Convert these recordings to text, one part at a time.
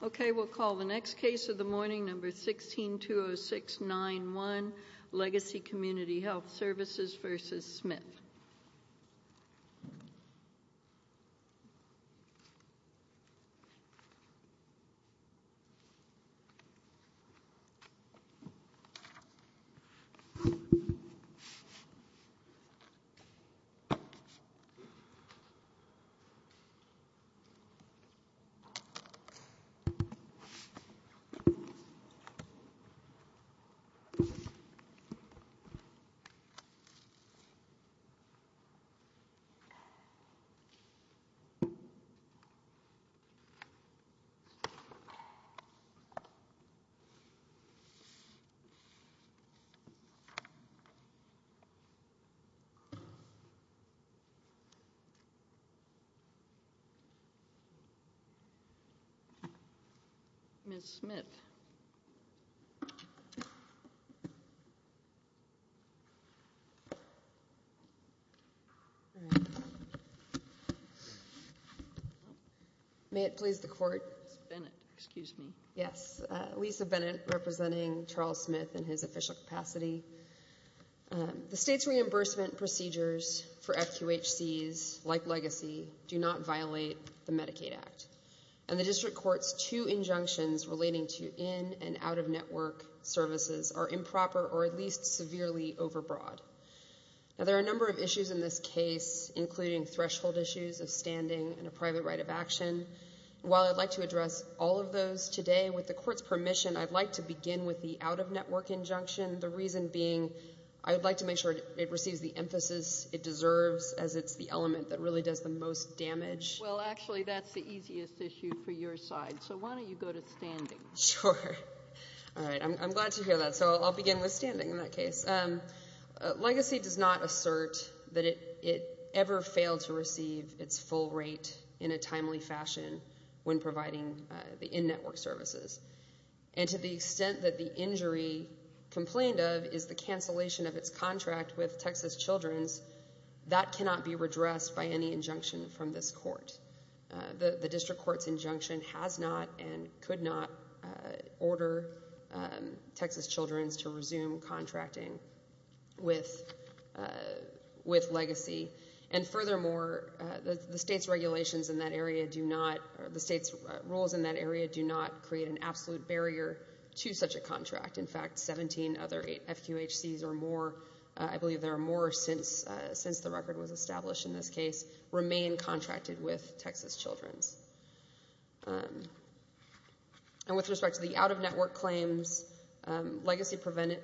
Okay, we'll call the next case of the morning, number 16-20691, Legacy Community Health Services v. Smith. Okay, we'll call the next case of the morning, number 16-20691, Legacy Community Health Services v. Smith. Ms. Smith. May it please the Court. Ms. Bennett, excuse me. Yes, Lisa Bennett, representing Charles Smith in his official capacity. The State's reimbursement procedures for FQHCs, like Legacy, do not violate the Medicaid Act. And the District Court's two injunctions relating to in- and out-of-network services are improper or at least severely overbroad. Now, there are a number of issues in this case, including threshold issues of standing and a private right of action. While I'd like to address all of those today, with the Court's permission, I'd like to begin with the out-of-network injunction, the reason being I would like to make sure it receives the emphasis it deserves as it's the element that really does the most damage. Well, actually, that's the easiest issue for your side, so why don't you go to standing? Sure. All right. I'm glad to hear that, so I'll begin with standing in that case. Legacy does not assert that it ever failed to receive its full rate in a timely fashion when providing the in-network services. And to the extent that the injury complained of is the cancellation of its contract with Texas Children's, that cannot be redressed by any injunction from this Court. The District Court's injunction has not and could not order Texas Children's to resume contracting with Legacy. And furthermore, the State's regulations in that area do not, or the State's rules in that area do not create an absolute barrier to such a contract. In fact, 17 other FQHCs or more, I believe there are more since the record was established in this case, remain contracted with Texas Children's. And with respect to the out-of-network claims, Legacy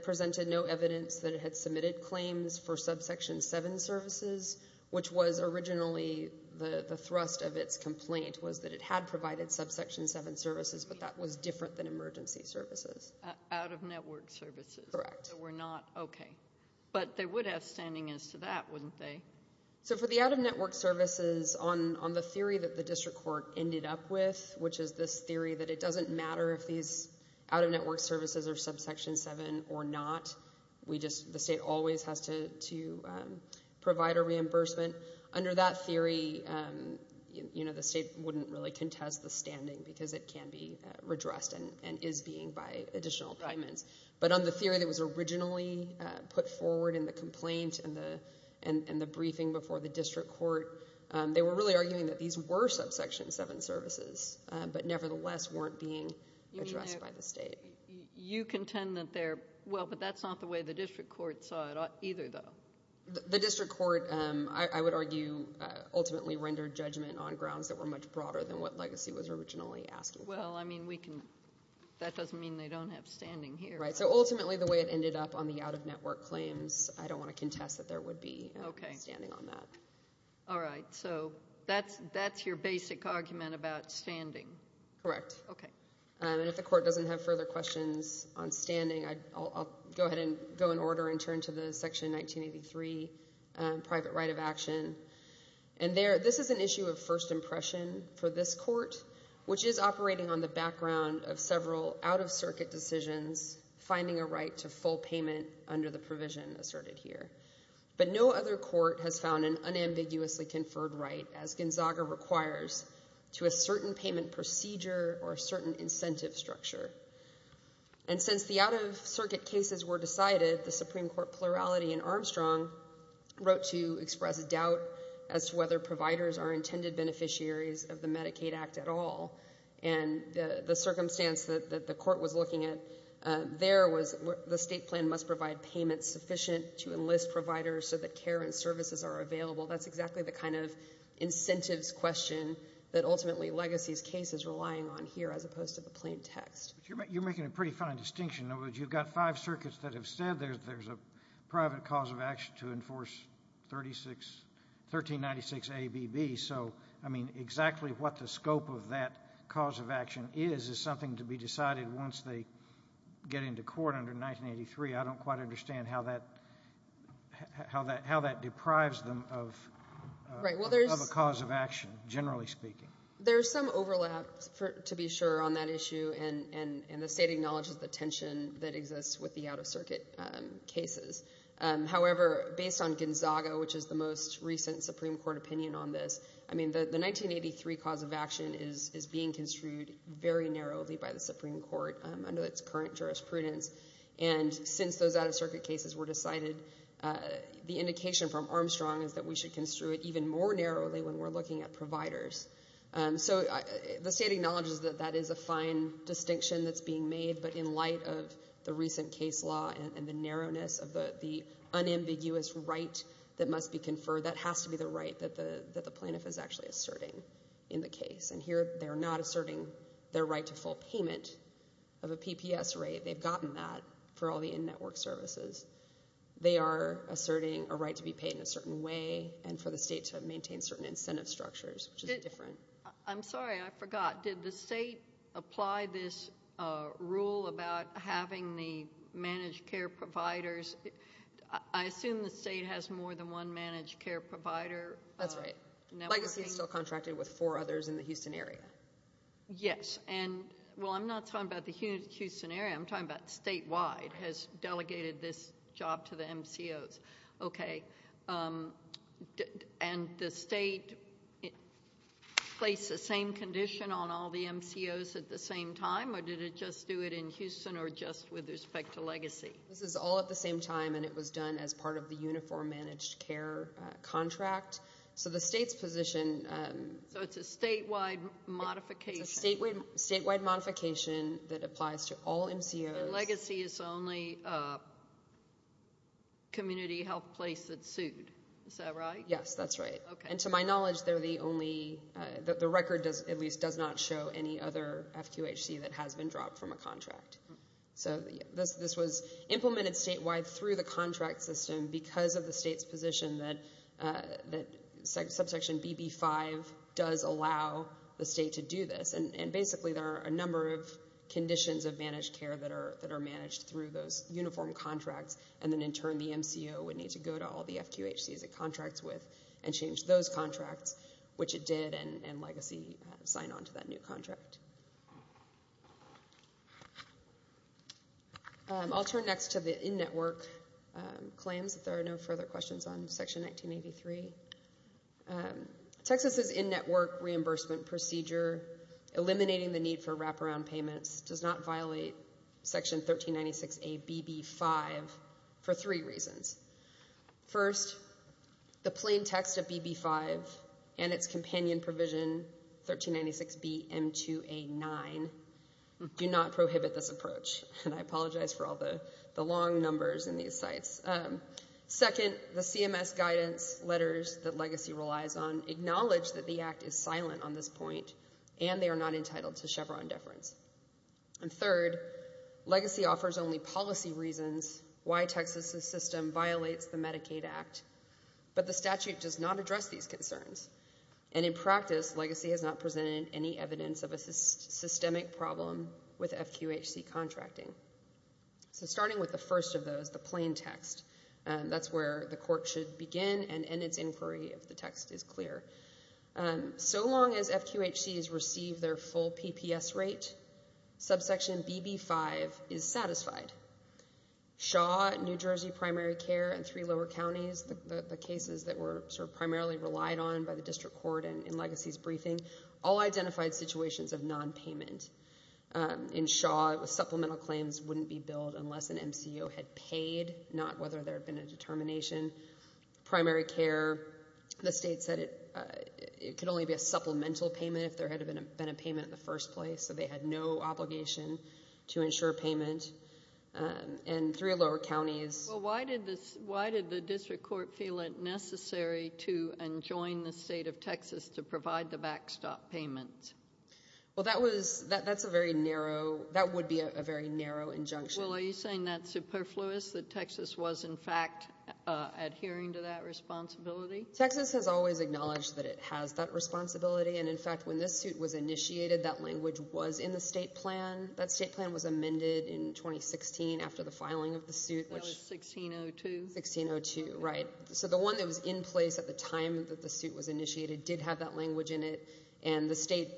presented no evidence that it had submitted claims for subsection 7 services, which was originally the thrust of its complaint was that it had provided subsection 7 services, but that was different than emergency services. Out-of-network services? Correct. They were not? Okay. But they would have standing as to that, wouldn't they? So for the out-of-network services, on the theory that the District Court ended up with, which is this theory that it doesn't matter if these out-of-network services are subsection 7 or not, the State always has to provide a reimbursement. Under that theory, the State wouldn't really contest the standing because it can be redressed and is being by additional payments. But on the theory that was originally put forward in the complaint and the briefing before the District Court, they were really arguing that these were subsection 7 services, but nevertheless weren't being addressed by the State. You contend that they're – well, but that's not the way the District Court saw it either, though. The District Court, I would argue, ultimately rendered judgment on grounds that were much broader than what Legacy was originally asking for. Well, I mean, we can – that doesn't mean they don't have standing here. Right. So ultimately, the way it ended up on the out-of-network claims, I don't want to contest that there would be standing on that. Okay. All right. So that's your basic argument about standing? Correct. Okay. And if the Court doesn't have further questions on standing, I'll go ahead and go in order and turn to the Section 1983 private right of action. And this is an issue of first impression for this court, which is operating on the background of several out-of-circuit decisions, finding a right to full payment under the provision asserted here. But no other court has found an unambiguously conferred right, as Gonzaga requires, to a certain payment procedure or a certain incentive structure. And since the out-of-circuit cases were decided, the Supreme Court plurality in Armstrong wrote to express a doubt as to whether providers are intended beneficiaries of the Medicaid Act at all. And the circumstance that the Court was looking at there was the state plan must provide payments sufficient to enlist providers so that care and services are available. That's exactly the kind of incentives question that ultimately Legacy's case is relying on here as opposed to the plain text. But you're making a pretty fine distinction. In other words, you've got five circuits that have said there's a private cause of action to enforce 1396ABB. So, I mean, exactly what the scope of that cause of action is is something to be decided once they get into court under 1983. I don't quite understand how that deprives them of a cause of action, generally speaking. There's some overlap, to be sure, on that issue, and the state acknowledges the tension that exists with the out-of-circuit cases. However, based on Gonzaga, which is the most recent Supreme Court opinion on this, I mean, the 1983 cause of action is being construed very narrowly by the Supreme Court under its current jurisprudence. And since those out-of-circuit cases were decided, the indication from Armstrong is that we should construe it even more narrowly when we're looking at providers. So the state acknowledges that that is a fine distinction that's being made, but in light of the recent case law and the narrowness of the unambiguous right that must be conferred, that has to be the right that the plaintiff is actually asserting in the case. And here they're not asserting their right to full payment of a PPS rate. They've gotten that for all the in-network services. They are asserting a right to be paid in a certain way and for the state to maintain certain incentive structures, which is different. I'm sorry, I forgot. Did the state apply this rule about having the managed care providers? I assume the state has more than one managed care provider. That's right. Legacy is still contracted with four others in the Houston area. Yes. Well, I'm not talking about the Houston area. I'm talking about statewide has delegated this job to the MCOs. Okay. And the state placed the same condition on all the MCOs at the same time, or did it just do it in Houston or just with respect to Legacy? This is all at the same time, and it was done as part of the uniform managed care contract. So the state's position ‑‑ So it's a statewide modification. It's a statewide modification that applies to all MCOs. And Legacy is the only community health place that's sued. Is that right? Yes, that's right. And to my knowledge, they're the only ‑‑ the record at least does not show any other FQHC that has been dropped from a contract. So this was implemented statewide through the contract system because of the state's position that subsection BB5 does allow the state to do this. And basically there are a number of conditions of managed care that are managed through those uniform contracts, and then in turn the MCO would need to go to all the FQHCs it contracts with and change those contracts, which it did, and Legacy signed on to that new contract. I'll turn next to the in‑network claims, if there are no further questions on Section 1983. Texas's in‑network reimbursement procedure, eliminating the need for wraparound payments, does not violate Section 1396A BB5 for three reasons. First, the plain text of BB5 and its companion provision, 1396B M2A9, do not prohibit this approach. And I apologize for all the long numbers in these sites. Second, the CMS guidance letters that Legacy relies on acknowledge that the act is silent on this point and they are not entitled to Chevron deference. And third, Legacy offers only policy reasons why Texas's system violates the Medicaid Act, but the statute does not address these concerns. And in practice, Legacy has not presented any evidence of a systemic problem with FQHC contracting. So starting with the first of those, the plain text, that's where the court should begin and end its inquiry if the text is clear. So long as FQHCs receive their full PPS rate, subsection BB5 is satisfied. Shaw, New Jersey Primary Care, and three lower counties, the cases that were primarily relied on by the district court in Legacy's briefing, all identified situations of nonpayment. In Shaw, supplemental claims wouldn't be billed unless an MCO had paid, not whether there had been a determination. Primary Care, the state said it could only be a supplemental payment if there had been a payment in the first place, so they had no obligation to insure payment. And three lower counties. Well, why did the district court feel it necessary to enjoin the state of Texas to provide the backstop payment? Well, that would be a very narrow injunction. Well, are you saying that's superfluous, that Texas was, in fact, adhering to that responsibility? Texas has always acknowledged that it has that responsibility, and, in fact, when this suit was initiated, that language was in the state plan. That state plan was amended in 2016 after the filing of the suit. That was 1602. 1602, right. So the one that was in place at the time that the suit was initiated did have that language in it, and the state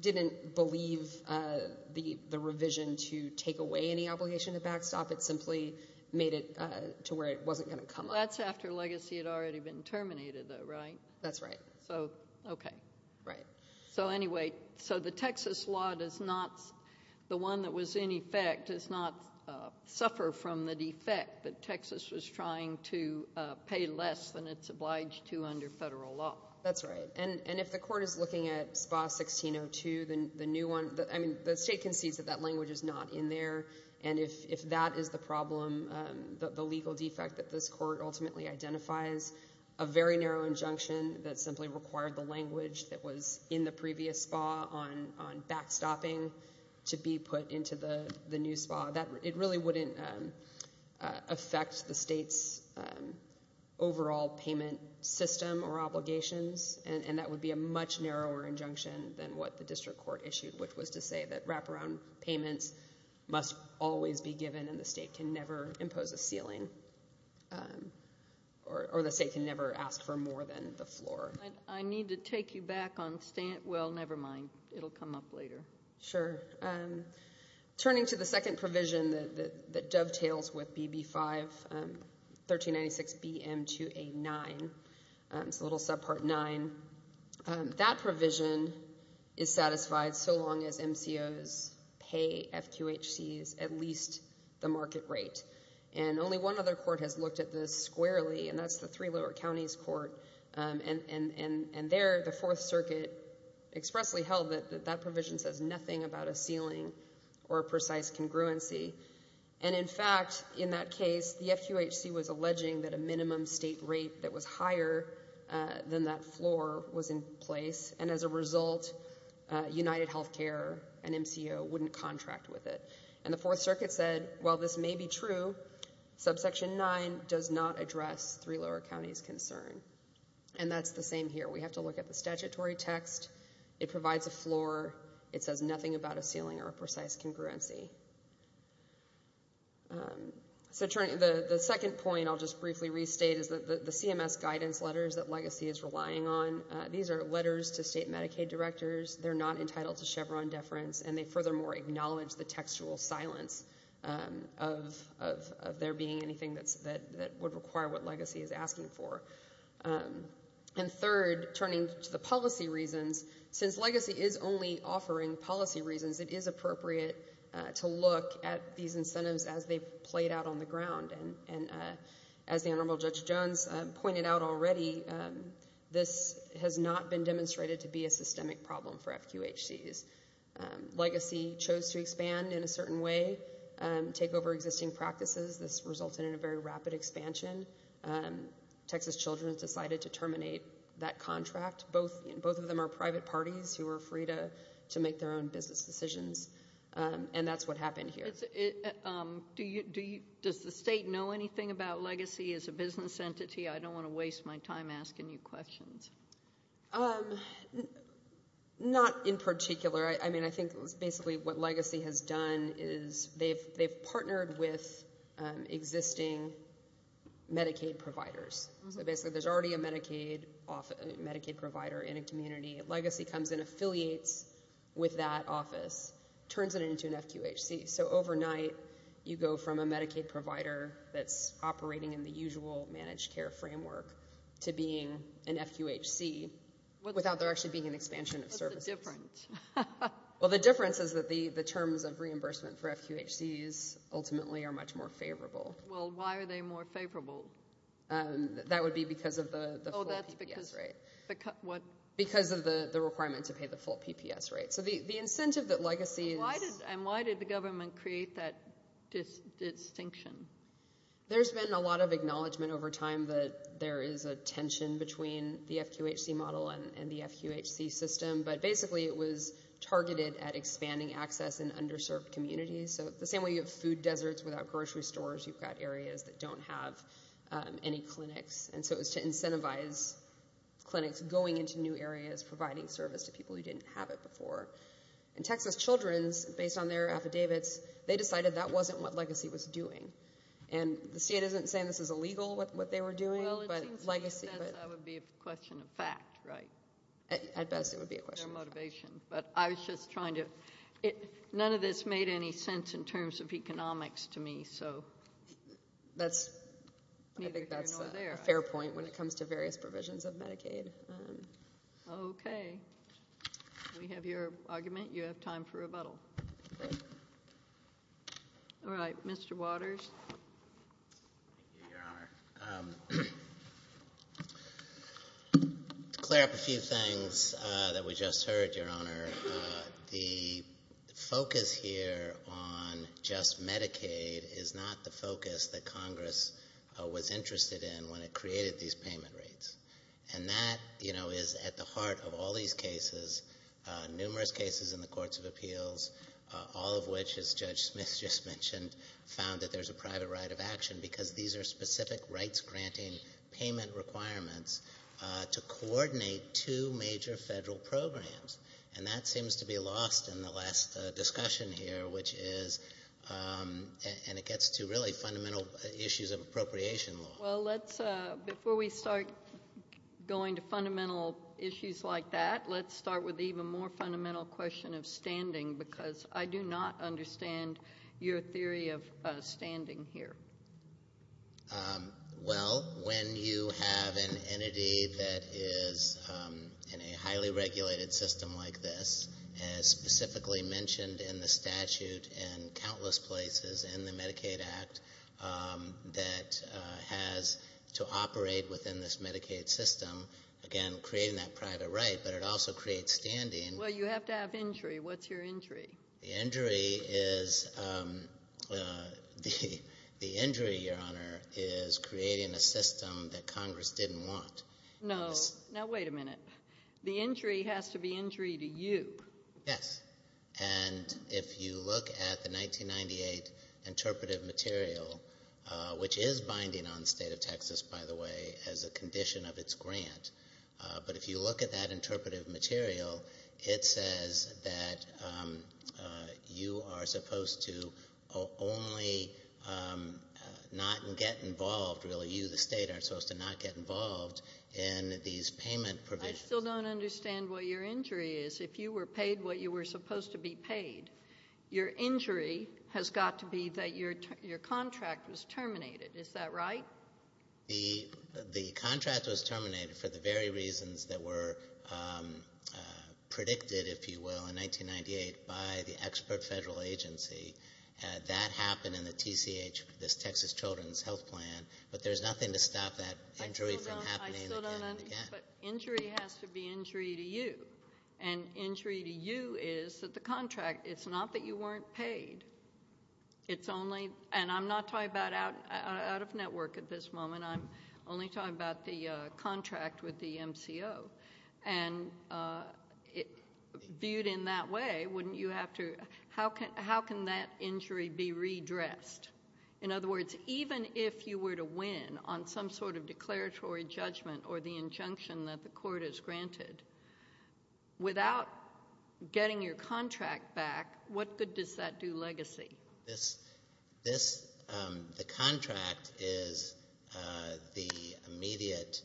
didn't believe the revision to take away any obligation to backstop. It simply made it to where it wasn't going to come. Well, that's after legacy had already been terminated, though, right? That's right. So, okay. Right. So, anyway, so the Texas law does not, the one that was in effect does not suffer from the defect that Texas was trying to pay less than it's obliged to under federal law. That's right. And if the court is looking at SPA 1602, the new one, I mean, the state concedes that that language is not in there, and if that is the problem, the legal defect that this court ultimately identifies, a very narrow injunction that simply required the language that was in the previous SPA on backstopping to be put into the new SPA, it really wouldn't affect the state's overall payment system or obligations, and that would be a much narrower injunction than what the district court issued, which was to say that wraparound payments must always be given and the state can never impose a ceiling or the state can never ask for more than the floor. I need to take you back on, well, never mind. It will come up later. Sure. Turning to the second provision that dovetails with BB 5, 1396 BM 2A9, it's a little subpart nine. That provision is satisfied so long as MCOs pay FQHCs at least the market rate, and only one other court has looked at this squarely, and that's the three lower counties court, and there the Fourth Circuit expressly held that that provision says nothing about a ceiling or a precise congruency, and in fact, in that case, the FQHC was alleging that a minimum state rate that was higher than that floor was in place, and as a result, UnitedHealthcare, an MCO, wouldn't contract with it, and the Fourth Circuit said, well, this may be true. Subsection nine does not address three lower counties' concern, and that's the same here. We have to look at the statutory text. It provides a floor. It says nothing about a ceiling or a precise congruency. So the second point I'll just briefly restate is that the CMS guidance letters that Legacy is relying on, these are letters to state Medicaid directors. They're not entitled to Chevron deference, and they furthermore acknowledge the textual silence of there being anything that would require what Legacy is asking for. And third, turning to the policy reasons, since Legacy is only offering policy reasons, it is appropriate to look at these incentives as they've played out on the ground, and as the Honorable Judge Jones pointed out already, this has not been demonstrated to be a systemic problem for FQHCs. Legacy chose to expand in a certain way, take over existing practices. This resulted in a very rapid expansion. Texas Children's decided to terminate that contract. Both of them are private parties who are free to make their own business decisions, and that's what happened here. Does the state know anything about Legacy as a business entity? I don't want to waste my time asking you questions. Not in particular. I mean, I think basically what Legacy has done is they've partnered with existing Medicaid providers. So basically there's already a Medicaid provider in a community. Legacy comes and affiliates with that office, turns it into an FQHC, so overnight you go from a Medicaid provider that's operating in the usual managed care framework to being an FQHC without there actually being an expansion of services. What's the difference? Well, the difference is that the terms of reimbursement for FQHCs ultimately are much more favorable. Well, why are they more favorable? That would be because of the full people. Because of the requirement to pay the full PPS rate. So the incentive that Legacy is. And why did the government create that distinction? There's been a lot of acknowledgment over time that there is a tension between the FQHC model and the FQHC system, but basically it was targeted at expanding access in underserved communities. So the same way you have food deserts without grocery stores, you've got areas that don't have any clinics. And so it was to incentivize clinics going into new areas, providing service to people who didn't have it before. And Texas Children's, based on their affidavits, they decided that wasn't what Legacy was doing. And the state isn't saying this is illegal, what they were doing, but Legacy. Well, it seems to me that that would be a question of fact, right? At best it would be a question of fact. Their motivation. But I was just trying to – none of this made any sense in terms of economics to me. I think that's a fair point when it comes to various provisions of Medicaid. Okay. We have your argument. You have time for rebuttal. All right, Mr. Waters. Thank you, Your Honor. To clear up a few things that we just heard, Your Honor, the focus here on just Medicaid is not the focus that Congress was interested in when it created these payment rates. And that, you know, is at the heart of all these cases, numerous cases in the courts of appeals, all of which, as Judge Smith just mentioned, found that there's a private right of action because these are specific rights-granting payment requirements to coordinate two major federal programs. And that seems to be lost in the last discussion here, which is – and it gets to really fundamental issues of appropriation law. Well, let's – before we start going to fundamental issues like that, let's start with the even more fundamental question of standing because I do not understand your theory of standing here. Well, when you have an entity that is in a highly regulated system like this, as specifically mentioned in the statute in countless places in the Medicaid Act, that has to operate within this Medicaid system, again, creating that private right, but it also creates standing. Well, you have to have injury. What's your injury? The injury is – the injury, Your Honor, is creating a system that Congress didn't want. No. Now, wait a minute. The injury has to be injury to you. Yes. And if you look at the 1998 interpretive material, which is binding on the State of Texas, by the way, as a condition of its grant, but if you look at that interpretive material, it says that you are supposed to only not get involved – really, you, the State, are supposed to not get involved in these payment provisions. I still don't understand what your injury is. If you were paid what you were supposed to be paid, your injury has got to be that your contract was terminated. Is that right? The contract was terminated for the very reasons that were predicted, if you will, in 1998 by the expert federal agency. That happened in the TCH, this Texas Children's Health Plan, but there's nothing to stop that injury from happening again. I still don't understand, but injury has to be injury to you, and injury to you is that the contract – it's not that you weren't paid. It's only – and I'm not talking about out of network at this moment. I'm only talking about the contract with the MCO, and viewed in that way, wouldn't you have to – how can that injury be redressed? In other words, even if you were to win on some sort of declaratory judgment or the injunction that the court has granted, without getting your contract back, what good does that do legacy? This – the contract is the immediate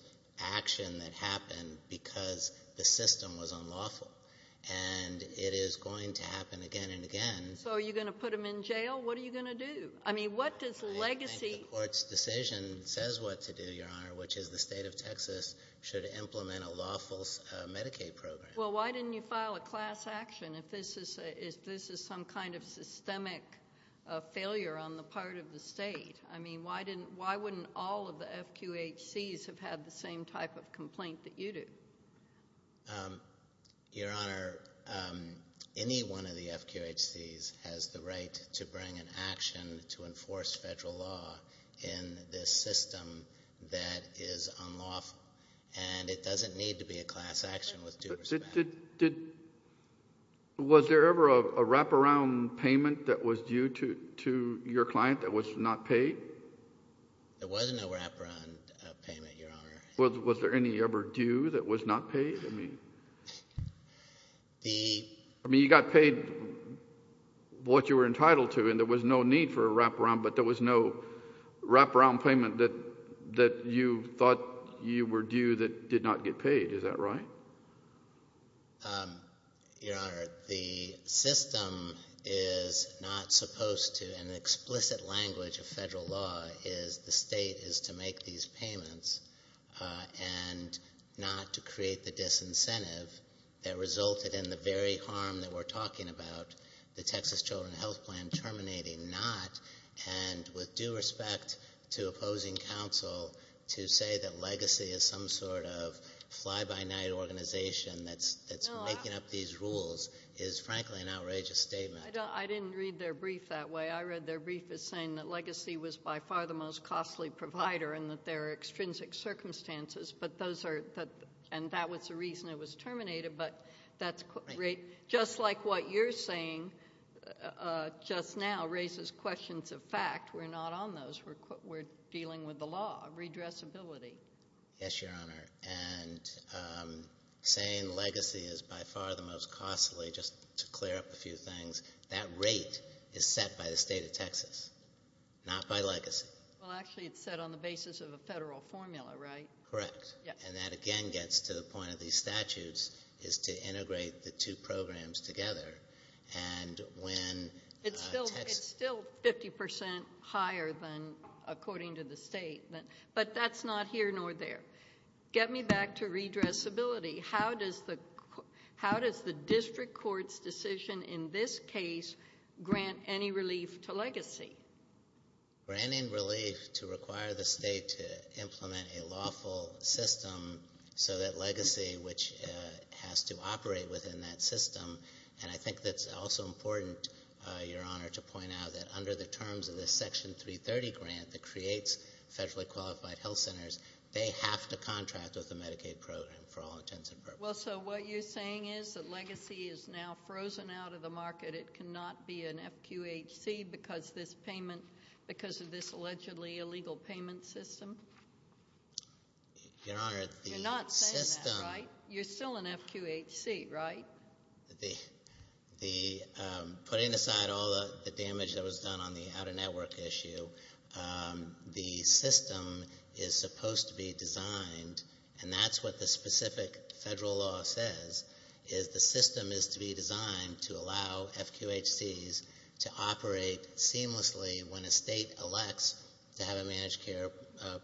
action that happened because the system was unlawful, and it is going to happen again and again. So are you going to put them in jail? What are you going to do? I mean, what does legacy – should implement a lawful Medicaid program? Well, why didn't you file a class action if this is some kind of systemic failure on the part of the state? I mean, why didn't – why wouldn't all of the FQHCs have had the same type of complaint that you do? Your Honor, any one of the FQHCs has the right to bring an action to enforce federal law in this system that is unlawful, and it doesn't need to be a class action with due respect. Did – was there ever a wraparound payment that was due to your client that was not paid? There was no wraparound payment, Your Honor. Was there any ever due that was not paid? I mean, you got paid what you were entitled to, and there was no need for a wraparound, but there was no wraparound payment that you thought you were due that did not get paid. Is that right? Your Honor, the system is not supposed to – and the explicit language of federal law is the state is to make these payments and not to create the disincentive that resulted in the very harm that we're talking about, the Texas Children's Health Plan terminating not, and with due respect to opposing counsel to say that Legacy is some sort of fly-by-night organization that's making up these rules is, frankly, an outrageous statement. I didn't read their brief that way. I read their brief as saying that Legacy was by far the most costly provider and that there are extrinsic circumstances, but those are – and that was the reason it was terminated, but that's – just like what you're saying just now raises questions of fact. We're not on those. We're dealing with the law of redressability. Yes, Your Honor, and saying Legacy is by far the most costly, just to clear up a few things, that rate is set by the state of Texas, not by Legacy. Well, actually, it's set on the basis of a federal formula, right? Correct. And that, again, gets to the point of these statutes is to integrate the two programs together. And when – It's still 50% higher than according to the state, but that's not here nor there. Get me back to redressability. How does the district court's decision in this case grant any relief to Legacy? Granting relief to require the state to implement a lawful system so that Legacy, which has to operate within that system, and I think that's also important, Your Honor, to point out that under the terms of the Section 330 grant that creates federally qualified health centers, they have to contract with the Medicaid program for all intents and purposes. Well, so what you're saying is that Legacy is now frozen out of the market. It cannot be an FQHC because of this allegedly illegal payment system? Your Honor, the system – You're not saying that, right? You're still an FQHC, right? Putting aside all the damage that was done on the outer network issue, the system is supposed to be designed, and that's what the specific federal law says, is the system is to be designed to allow FQHCs to operate seamlessly when a state elects to have a managed care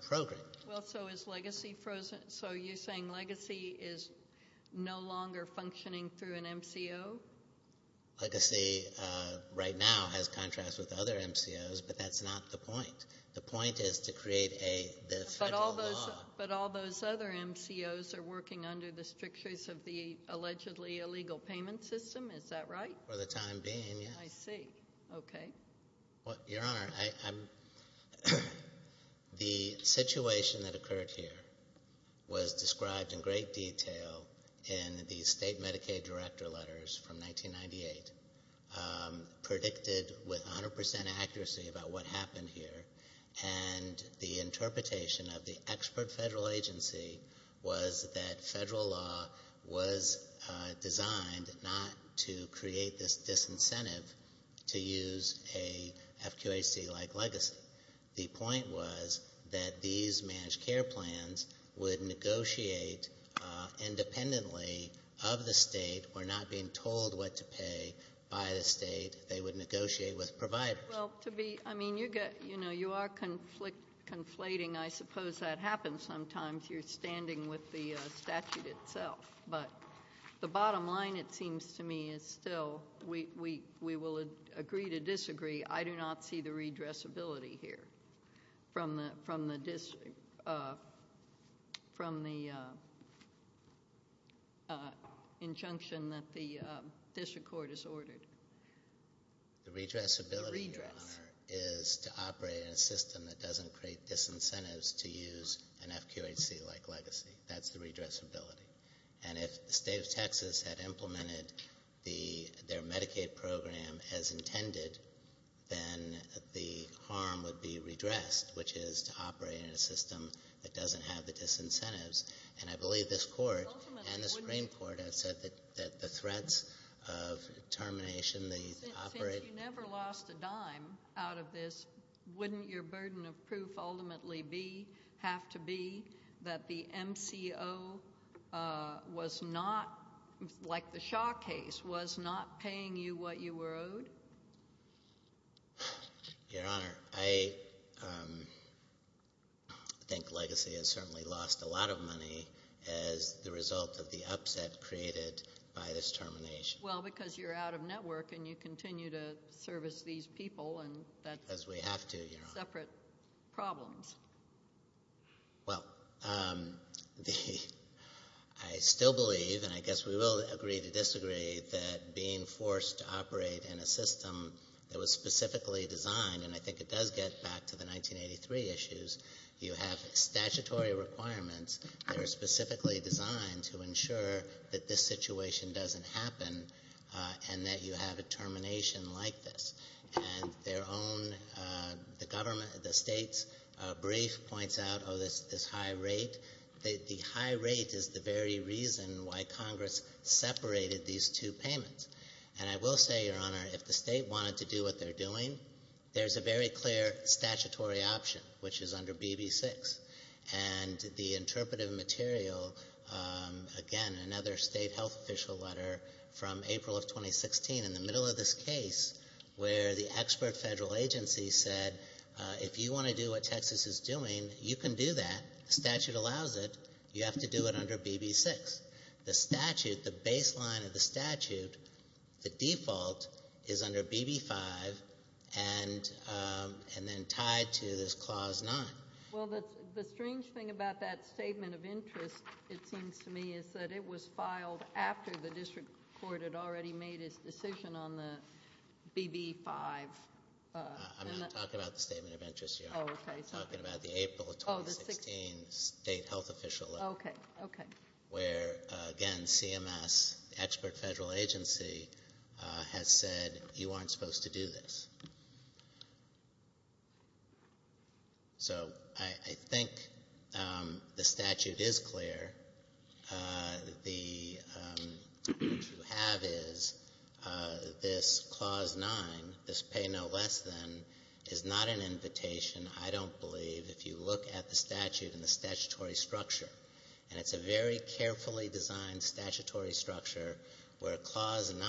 program. Well, so is Legacy frozen? So you're saying Legacy is no longer functioning through an MCO? Legacy right now has contracts with other MCOs, but that's not the point. The point is to create the federal law. But all those other MCOs are working under the strictures of the allegedly illegal payment system. Is that right? For the time being, yes. I see. Okay. Well, Your Honor, the situation that occurred here was described in great detail in the state Medicaid director letters from 1998, predicted with 100 percent accuracy about what happened here, and the interpretation of the expert federal agency was that federal law was designed not to create this disincentive to use a FQHC like Legacy. The point was that these managed care plans would negotiate independently of the state or not being told what to pay by the state, they would negotiate with providers. Well, I mean, you are conflating. I suppose that happens sometimes. You're standing with the statute itself. But the bottom line, it seems to me, is still we will agree to disagree. I do not see the redressability here from the injunction that the district court has ordered. The redressability, Your Honor, is to operate in a system that doesn't create disincentives to use an FQHC like Legacy. That's the redressability. And if the state of Texas had implemented their Medicaid program as intended, then the harm would be redressed, which is to operate in a system that doesn't have the disincentives. And I believe this Court and the Supreme Court have said that the threats of termination, the operate in a system that doesn't have the disincentives. Since you never lost a dime out of this, wouldn't your burden of proof ultimately have to be that the MCO was not, like the Shaw case, was not paying you what you were owed? Your Honor, I think Legacy has certainly lost a lot of money as the result of the upset created by this termination. Well, because you're out of network and you continue to service these people, and that's separate problems. Well, I still believe, and I guess we will agree to disagree, that being forced to operate in a system that was specifically designed, and I think it does get back to the 1983 issues, you have statutory requirements that are specifically designed to ensure that this situation doesn't happen and that you have a termination like this. And their own, the government, the state's brief points out, oh, this high rate. The high rate is the very reason why Congress separated these two payments. And I will say, Your Honor, if the state wanted to do what they're doing, there's a very clear statutory option, which is under BB6. And the interpretive material, again, another state health official letter from April of 2016, in the middle of this case, where the expert federal agency said, if you want to do what Texas is doing, you can do that. The statute allows it. You have to do it under BB6. The statute, the baseline of the statute, the default, is under BB5 and then tied to this Clause 9. Well, the strange thing about that statement of interest, it seems to me, is that it was filed after the district court had already made its decision on the BB5. I'm not talking about the statement of interest, Your Honor. I'm talking about the April of 2016 state health official letter. Okay. Where, again, CMS, the expert federal agency, has said you aren't supposed to do this. So I think the statute is clear. What you have is this Clause 9, this pay no less than, is not an invitation, I don't believe, if you look at the statute and the statutory structure. And it's a very carefully designed statutory structure where Clause 9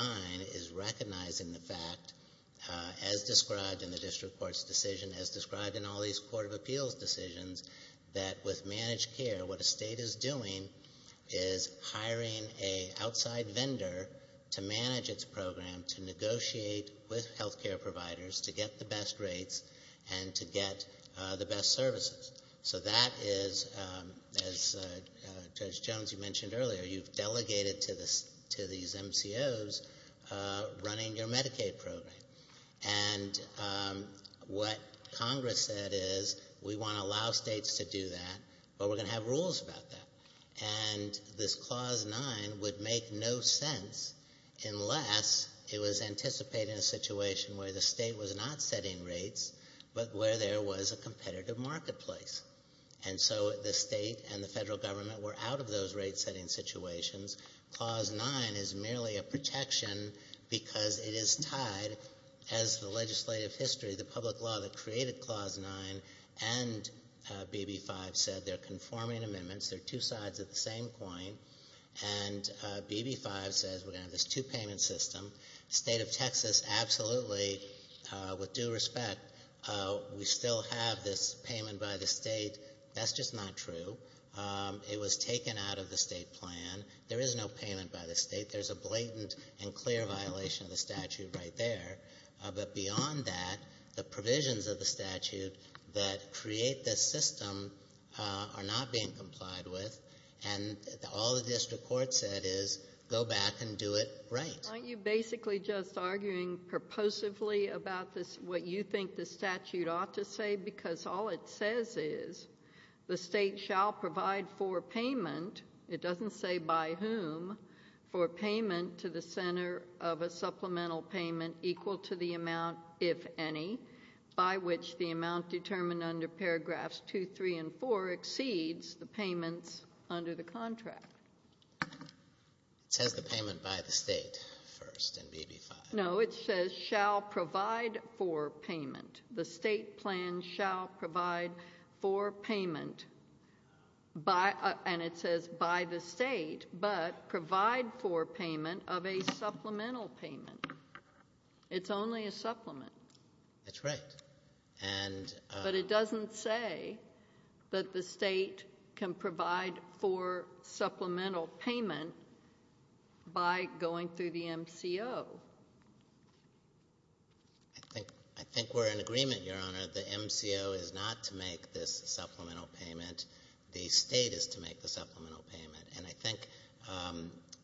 is recognizing the fact, as described in the district court's decision, as described in all these court of appeals decisions, that with managed care, what a state is doing is hiring an outside vendor to manage its program, to negotiate with health care providers to get the best rates and to get the best services. So that is, as Judge Jones, you mentioned earlier, you've delegated to these MCOs running your Medicaid program. And what Congress said is we want to allow states to do that, but we're going to have rules about that. And this Clause 9 would make no sense unless it was anticipated in a situation where the state was not setting rates, but where there was a competitive marketplace. And so the state and the federal government were out of those rate-setting situations. Clause 9 is merely a protection because it is tied, as the legislative history, the public law that created Clause 9 and BB-5 said they're conforming amendments. They're two sides of the same coin. And BB-5 says we're going to have this two-payment system. The state of Texas absolutely, with due respect, we still have this payment by the state. That's just not true. It was taken out of the state plan. There is no payment by the state. There's a blatant and clear violation of the statute right there. But beyond that, the provisions of the statute that create this system are not being complied with. And all the district court said is go back and do it right. Aren't you basically just arguing purposively about what you think the statute ought to say? Because all it says is the state shall provide for payment. It doesn't say by whom. For payment to the center of a supplemental payment equal to the amount, if any, by which the amount determined under paragraphs 2, 3, and 4 exceeds the payments under the contract. It says the payment by the state first in BB-5. No, it says shall provide for payment. The state plan shall provide for payment, and it says by the state, but provide for payment of a supplemental payment. It's only a supplement. That's right. But it doesn't say that the state can provide for supplemental payment by going through the MCO. I think we're in agreement, Your Honor. The MCO is not to make this supplemental payment. The state is to make the supplemental payment. And I think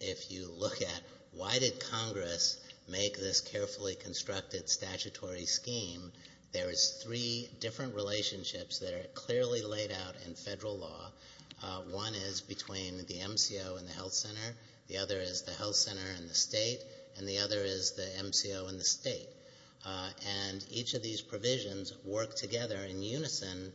if you look at why did Congress make this carefully constructed statutory scheme, there is three different relationships that are clearly laid out in federal law. One is between the MCO and the health center. The other is the health center and the state, and the other is the MCO and the state. And each of these provisions work together in unison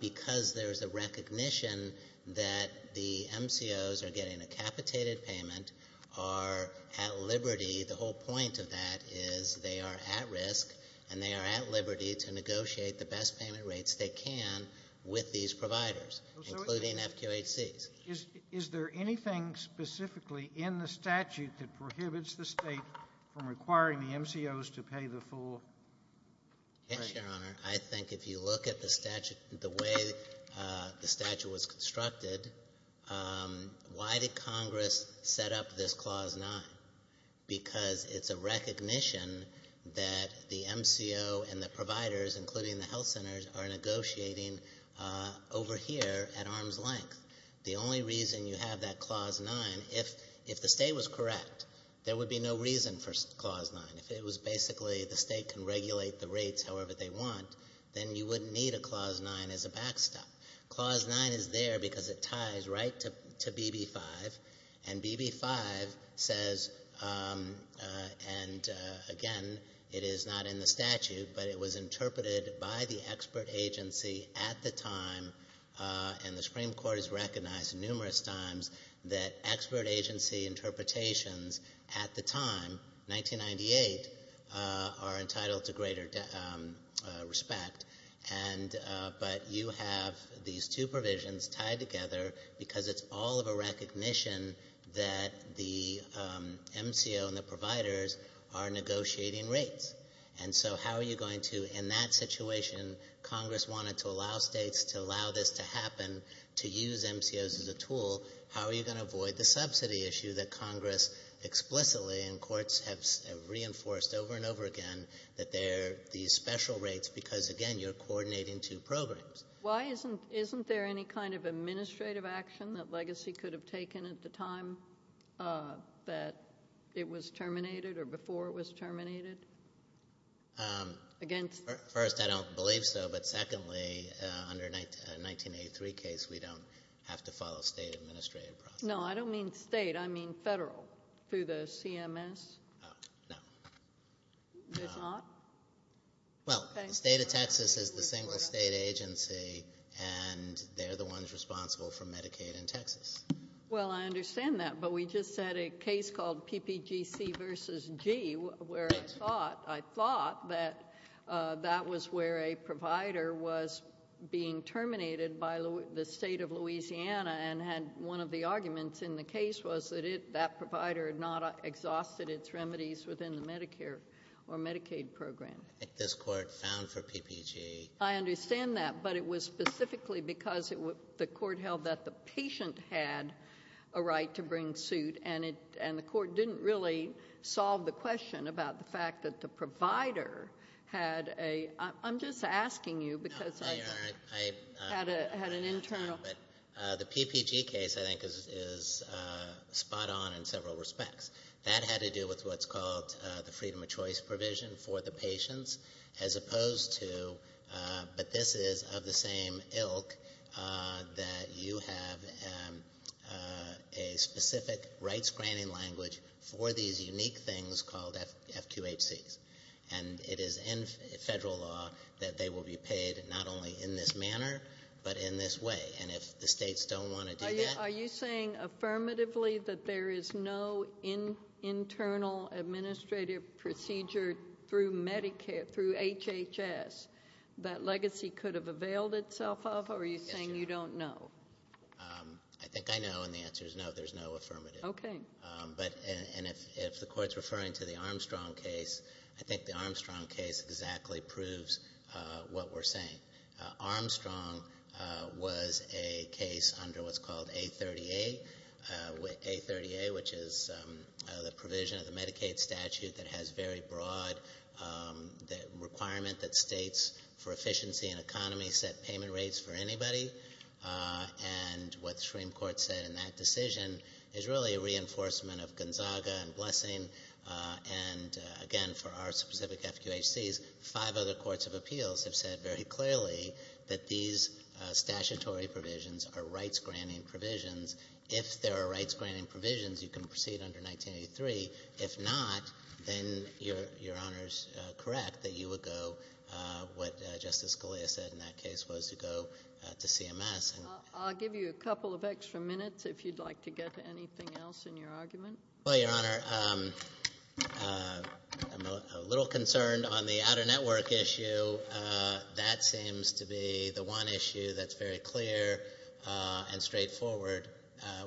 because there is a recognition that the MCOs are getting a capitated payment, are at liberty, the whole point of that is they are at risk, and they are at liberty to negotiate the best payment rates they can with these providers, including FQHCs. Is there anything specifically in the statute that prohibits the state from requiring the MCOs to pay the full price? Yes, Your Honor. I think if you look at the statute, the way the statute was constructed, why did Congress set up this Clause 9? Because it's a recognition that the MCO and the providers, including the health centers, are negotiating over here at arm's length. The only reason you have that Clause 9, if the state was correct, there would be no reason for Clause 9. If it was basically the state can regulate the rates however they want, then you wouldn't need a Clause 9 as a backstop. Clause 9 is there because it ties right to BB-5, and BB-5 says, and again, it is not in the statute, but it was interpreted by the expert agency at the time, and the Supreme Court has recognized numerous times, that expert agency interpretations at the time, 1998, are entitled to greater respect. But you have these two provisions tied together because it's all of a recognition that the MCO and the providers are negotiating rates. And so how are you going to, in that situation, Congress wanted to allow states to allow this to happen, to use MCOs as a tool, how are you going to avoid the subsidy issue that Congress explicitly, and courts have reinforced over and over again, that they're these special rates because, again, you're coordinating two programs. Why isn't there any kind of administrative action that Legacy could have taken at the time that it was terminated, or before it was terminated? First, I don't believe so, but secondly, under a 1983 case, we don't have to follow state administrative process. No, I don't mean state, I mean federal, through the CMS. No. It's not? Well, the state of Texas is the single state agency, and they're the ones responsible for Medicaid in Texas. Well, I understand that, but we just had a case called PPGC versus G, where I thought that that was where a provider was being terminated by the state of Louisiana, and had one of the arguments in the case was that that provider had not exhausted its remedies within the Medicare or Medicaid program. I think this court found for PPG. I understand that, but it was specifically because the court held that the patient had a right to bring suit, and the court didn't really solve the question about the fact that the provider had a — I'm just asking you because I — The PPG case, I think, is spot on in several respects. That had to do with what's called the freedom of choice provision for the patients, as opposed to — but this is of the same ilk that you have a specific rights-granting language for these unique things called FQHCs, and it is in federal law that they will be paid not only in this manner, but in this way. And if the states don't want to do that — Are you saying affirmatively that there is no internal administrative procedure through Medicare, through HHS, that legacy could have availed itself of, or are you saying you don't know? I think I know, and the answer is no, there's no affirmative. Okay. And if the court's referring to the Armstrong case, I think the Armstrong case exactly proves what we're saying. Armstrong was a case under what's called A38, which is the provision of the Medicaid statute that has very broad requirement that states for efficiency and economy set payment rates for anybody. And what the Supreme Court said in that decision is really a reinforcement of Gonzaga and Blessing. And again, for our specific FQHCs, five other courts of appeals have said very clearly that these statutory provisions are rights-granting provisions. If there are rights-granting provisions, you can proceed under 1983. If not, then Your Honor's correct that you would go what Justice Scalia said in that case was to go to CMS. I'll give you a couple of extra minutes if you'd like to get to anything else in your argument. Well, Your Honor, I'm a little concerned on the outer network issue. So that seems to be the one issue that's very clear and straightforward,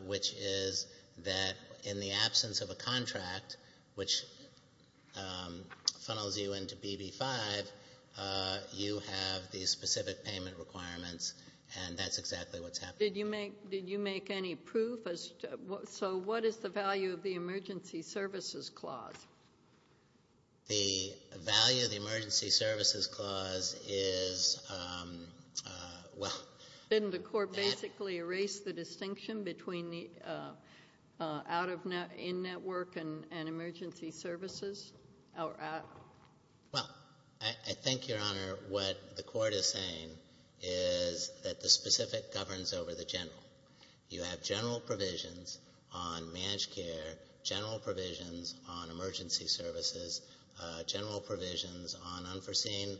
which is that in the absence of a contract which funnels you into BB-5, you have these specific payment requirements, and that's exactly what's happening. Did you make any proof? So what is the value of the emergency services clause? The value of the emergency services clause is, well — Didn't the Court basically erase the distinction between out-of-network and emergency services? Well, I think, Your Honor, what the Court is saying is that the specific governs over the general. You have general provisions on managed care, general provisions on emergency services, general provisions on unforeseen,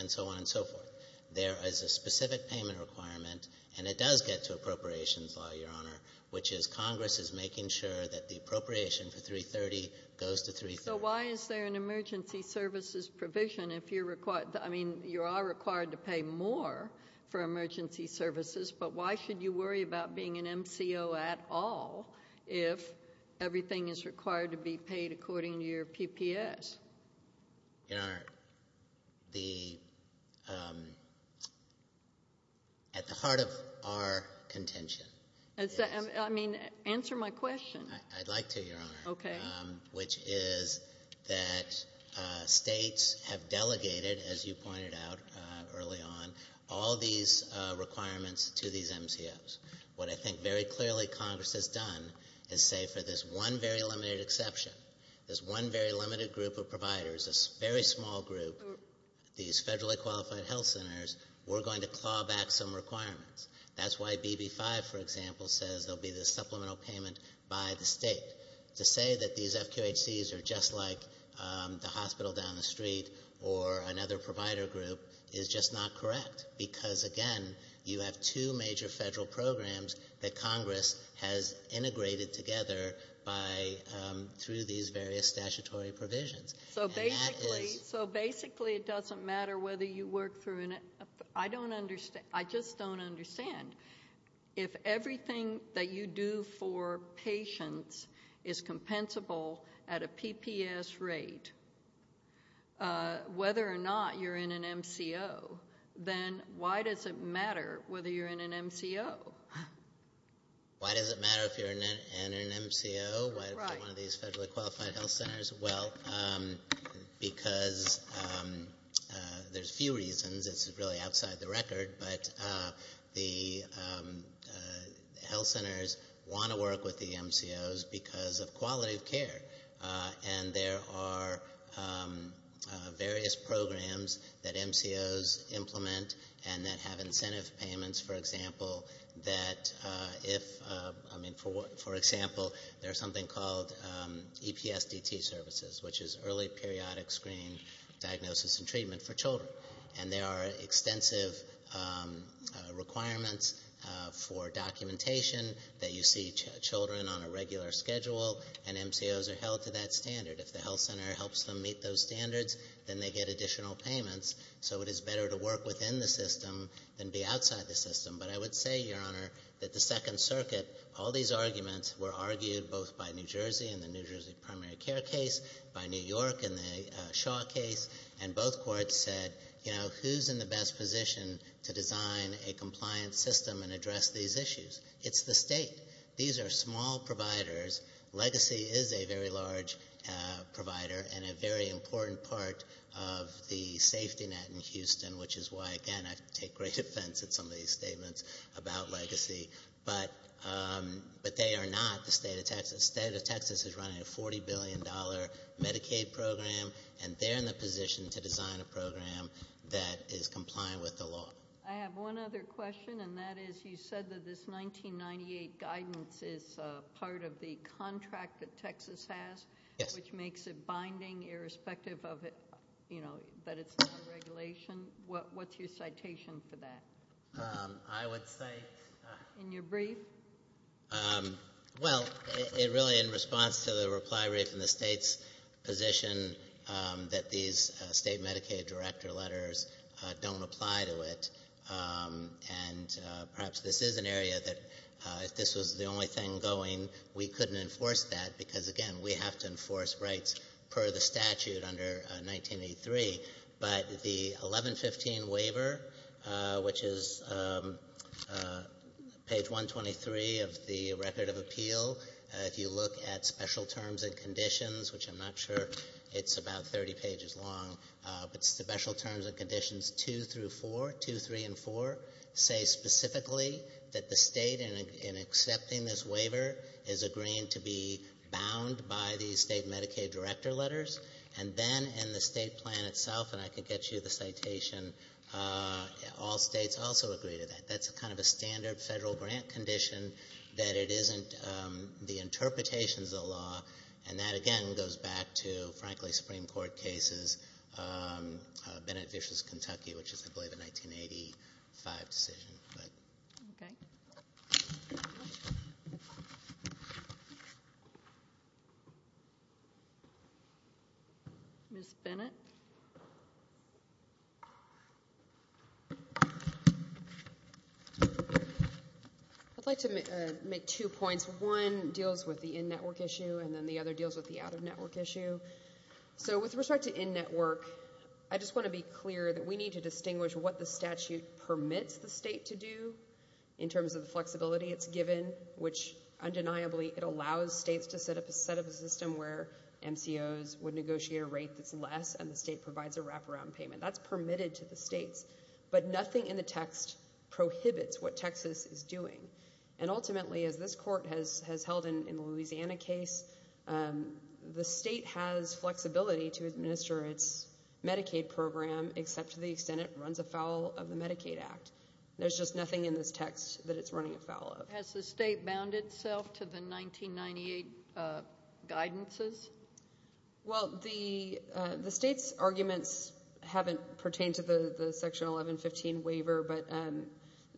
and so on and so forth. There is a specific payment requirement, and it does get to appropriations law, Your Honor, which is Congress is making sure that the appropriation for 330 goes to 330. So why is there an emergency services provision if you're — I mean, you are required to pay more for emergency services, but why should you worry about being an MCO at all if everything is required to be paid according to your PPS? Your Honor, the — at the heart of our contention is — I mean, answer my question. I'd like to, Your Honor. Okay. Which is that states have delegated, as you pointed out early on, all these requirements to these MCOs. What I think very clearly Congress has done is say for this one very limited exception, this one very limited group of providers, this very small group, these federally qualified health centers, we're going to claw back some requirements. That's why BB-5, for example, says there will be this supplemental payment by the state to say that these FQHCs are just like the hospital down the street or another provider group is just not correct because, again, you have two major federal programs that Congress has integrated together by — through these various statutory provisions. So basically — And that is — So basically it doesn't matter whether you work through — I don't understand. I just don't understand. If everything that you do for patients is compensable at a PPS rate, whether or not you're in an MCO, then why does it matter whether you're in an MCO? Why does it matter if you're in an MCO? Right. One of these federally qualified health centers? Well, because there's a few reasons. It's really outside the record, but the health centers want to work with the MCOs because of quality of care. And there are various programs that MCOs implement and that have incentive payments, for example, that if — which is early periodic screen diagnosis and treatment for children. And there are extensive requirements for documentation that you see children on a regular schedule, and MCOs are held to that standard. If the health center helps them meet those standards, then they get additional payments. So it is better to work within the system than be outside the system. But I would say, Your Honor, that the Second Circuit — in the New Jersey primary care case, by New York in the Shaw case, and both courts said, you know, who's in the best position to design a compliant system and address these issues? It's the state. These are small providers. Legacy is a very large provider and a very important part of the safety net in Houston, which is why, again, I take great offense at some of these statements about Legacy. But they are not the state of Texas. The state of Texas is running a $40 billion Medicaid program, and they're in the position to design a program that is compliant with the law. I have one other question, and that is you said that this 1998 guidance is part of the contract that Texas has. Yes. Which makes it binding, irrespective of, you know, that it's not a regulation. What's your citation for that? I would say — In your brief? Well, it really, in response to the reply written in the state's position, that these state Medicaid director letters don't apply to it. And perhaps this is an area that, if this was the only thing going, we couldn't enforce that, because, again, we have to enforce rights per the statute under 1983. But the 1115 waiver, which is page 123 of the Record of Appeal, if you look at Special Terms and Conditions, which I'm not sure it's about 30 pages long, but Special Terms and Conditions 2 through 4, 2, 3, and 4, say specifically that the state, in accepting this waiver, is agreeing to be bound by these state Medicaid director letters. And then in the state plan itself, and I could get you the citation, all states also agree to that. That's kind of a standard federal grant condition that it isn't the interpretations of the law. And that, again, goes back to, frankly, Supreme Court cases, Bennett v. Kentucky, which is, I believe, a 1985 decision. Okay. Ms. Bennett? I'd like to make two points. One deals with the in-network issue, and then the other deals with the out-of-network issue. So with respect to in-network, I just want to be clear that we need to distinguish what the statute permits the state to do in terms of the flexibility it's given, which, undeniably, it allows states to set up a system where MCOs would negotiate a rate that's less, and the state provides a wraparound payment. That's permitted to the states. But nothing in the text prohibits what Texas is doing. And ultimately, as this Court has held in the Louisiana case, the state has flexibility to administer its Medicaid program, except to the extent it runs afoul of the Medicaid Act. There's just nothing in this text that it's running afoul of. Has the state bound itself to the 1998 guidances? Well, the state's arguments haven't pertained to the Section 1115 waiver, but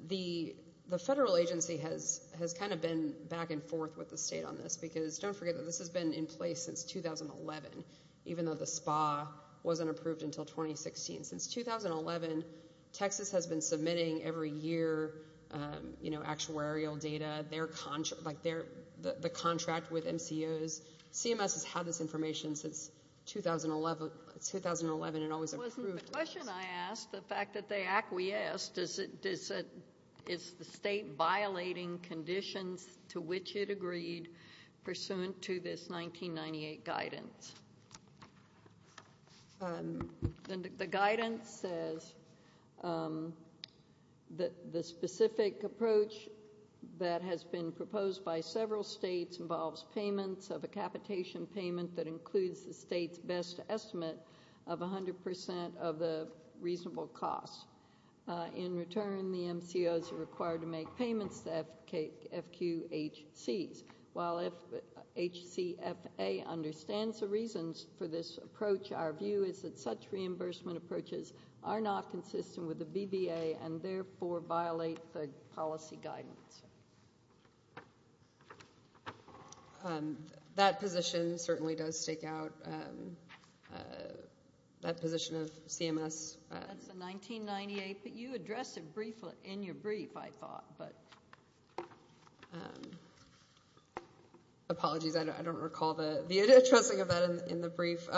the federal agency has kind of been back and forth with the state on this, because don't forget that this has been in place since 2011, even though the SPA wasn't approved until 2016. Since 2011, Texas has been submitting, every year, actuarial data, the contract with MCOs. CMS has had this information since 2011 and always approved those. It wasn't the question I asked, the fact that they acquiesced. Is the state violating conditions to which it agreed pursuant to this 1998 guidance? The guidance says that the specific approach that has been proposed by several states involves payments of a capitation payment that includes the state's best estimate of 100% of the reasonable cost. In return, the MCOs are required to make payments to FQHCs. While HCFA understands the reasons for this approach, our view is that such reimbursement approaches are not consistent with the BVA and therefore violate the policy guidance. That position certainly does stake out that position of CMS. That's the 1998, but you addressed it briefly in your brief, I thought. Apologies, I don't recall the addressing of that in the brief.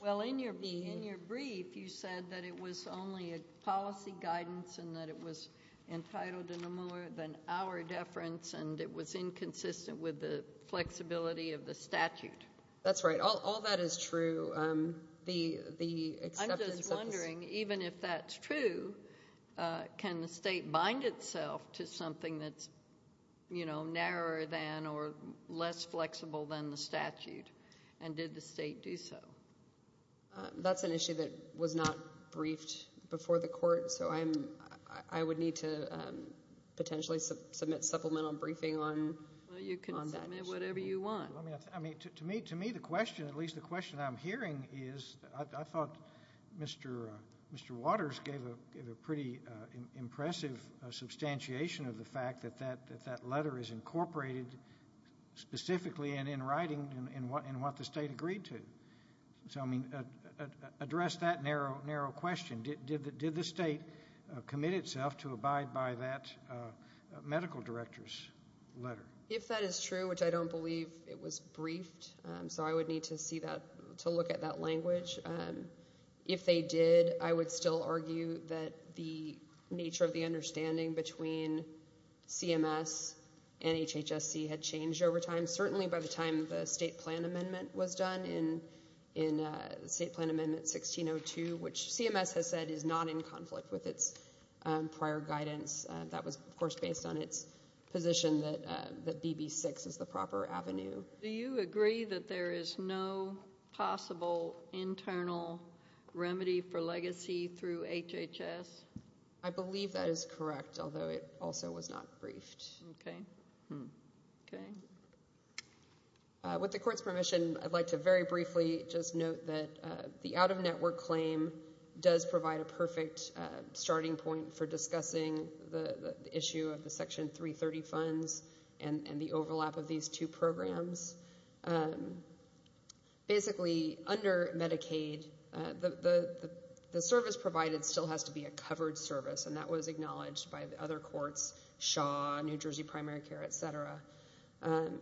Well, in your brief, you said that it was only a policy guidance and that it was entitled to no more than hour deference and it was inconsistent with the flexibility of the statute. That's right. All that is true. I'm just wondering, even if that's true, can the state bind itself to something that's narrower than or less flexible than the statute, and did the state do so? That's an issue that was not briefed before the court, so I would need to potentially submit supplemental briefing on that issue. Well, you can submit whatever you want. To me, the question, at least the question I'm hearing is, I thought Mr. Waters gave a pretty impressive substantiation of the fact that that letter is incorporated specifically in writing in what the state agreed to. So, I mean, address that narrow question. Did the state commit itself to abide by that medical director's letter? If that is true, which I don't believe it was briefed, so I would need to look at that language. If they did, I would still argue that the nature of the understanding between CMS and HHSC had changed over time, certainly by the time the state plan amendment was done in State Plan Amendment 1602, which CMS has said is not in conflict with its prior guidance. That was, of course, based on its position that BB-6 is the proper avenue. Do you agree that there is no possible internal remedy for legacy through HHS? I believe that is correct, although it also was not briefed. Okay. With the court's permission, I'd like to very briefly just note that the out-of-network claim does provide a perfect starting point for discussing the issue of the Section 330 funds and the overlap of these two programs. Basically, under Medicaid, the service provided still has to be a covered service, and that was acknowledged by other courts, Shaw, New Jersey Primary Care, et cetera.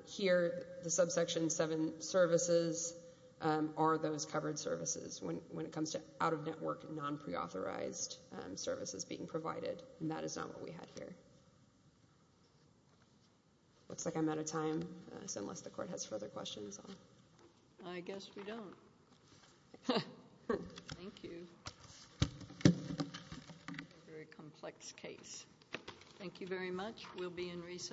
Here, the Subsection 7 services are those covered services. When it comes to out-of-network, non-preauthorized services being provided, that is not what we had here. It looks like I'm out of time, unless the court has further questions. I guess we don't. Thank you. Very complex case. Thank you very much. We'll be in recess.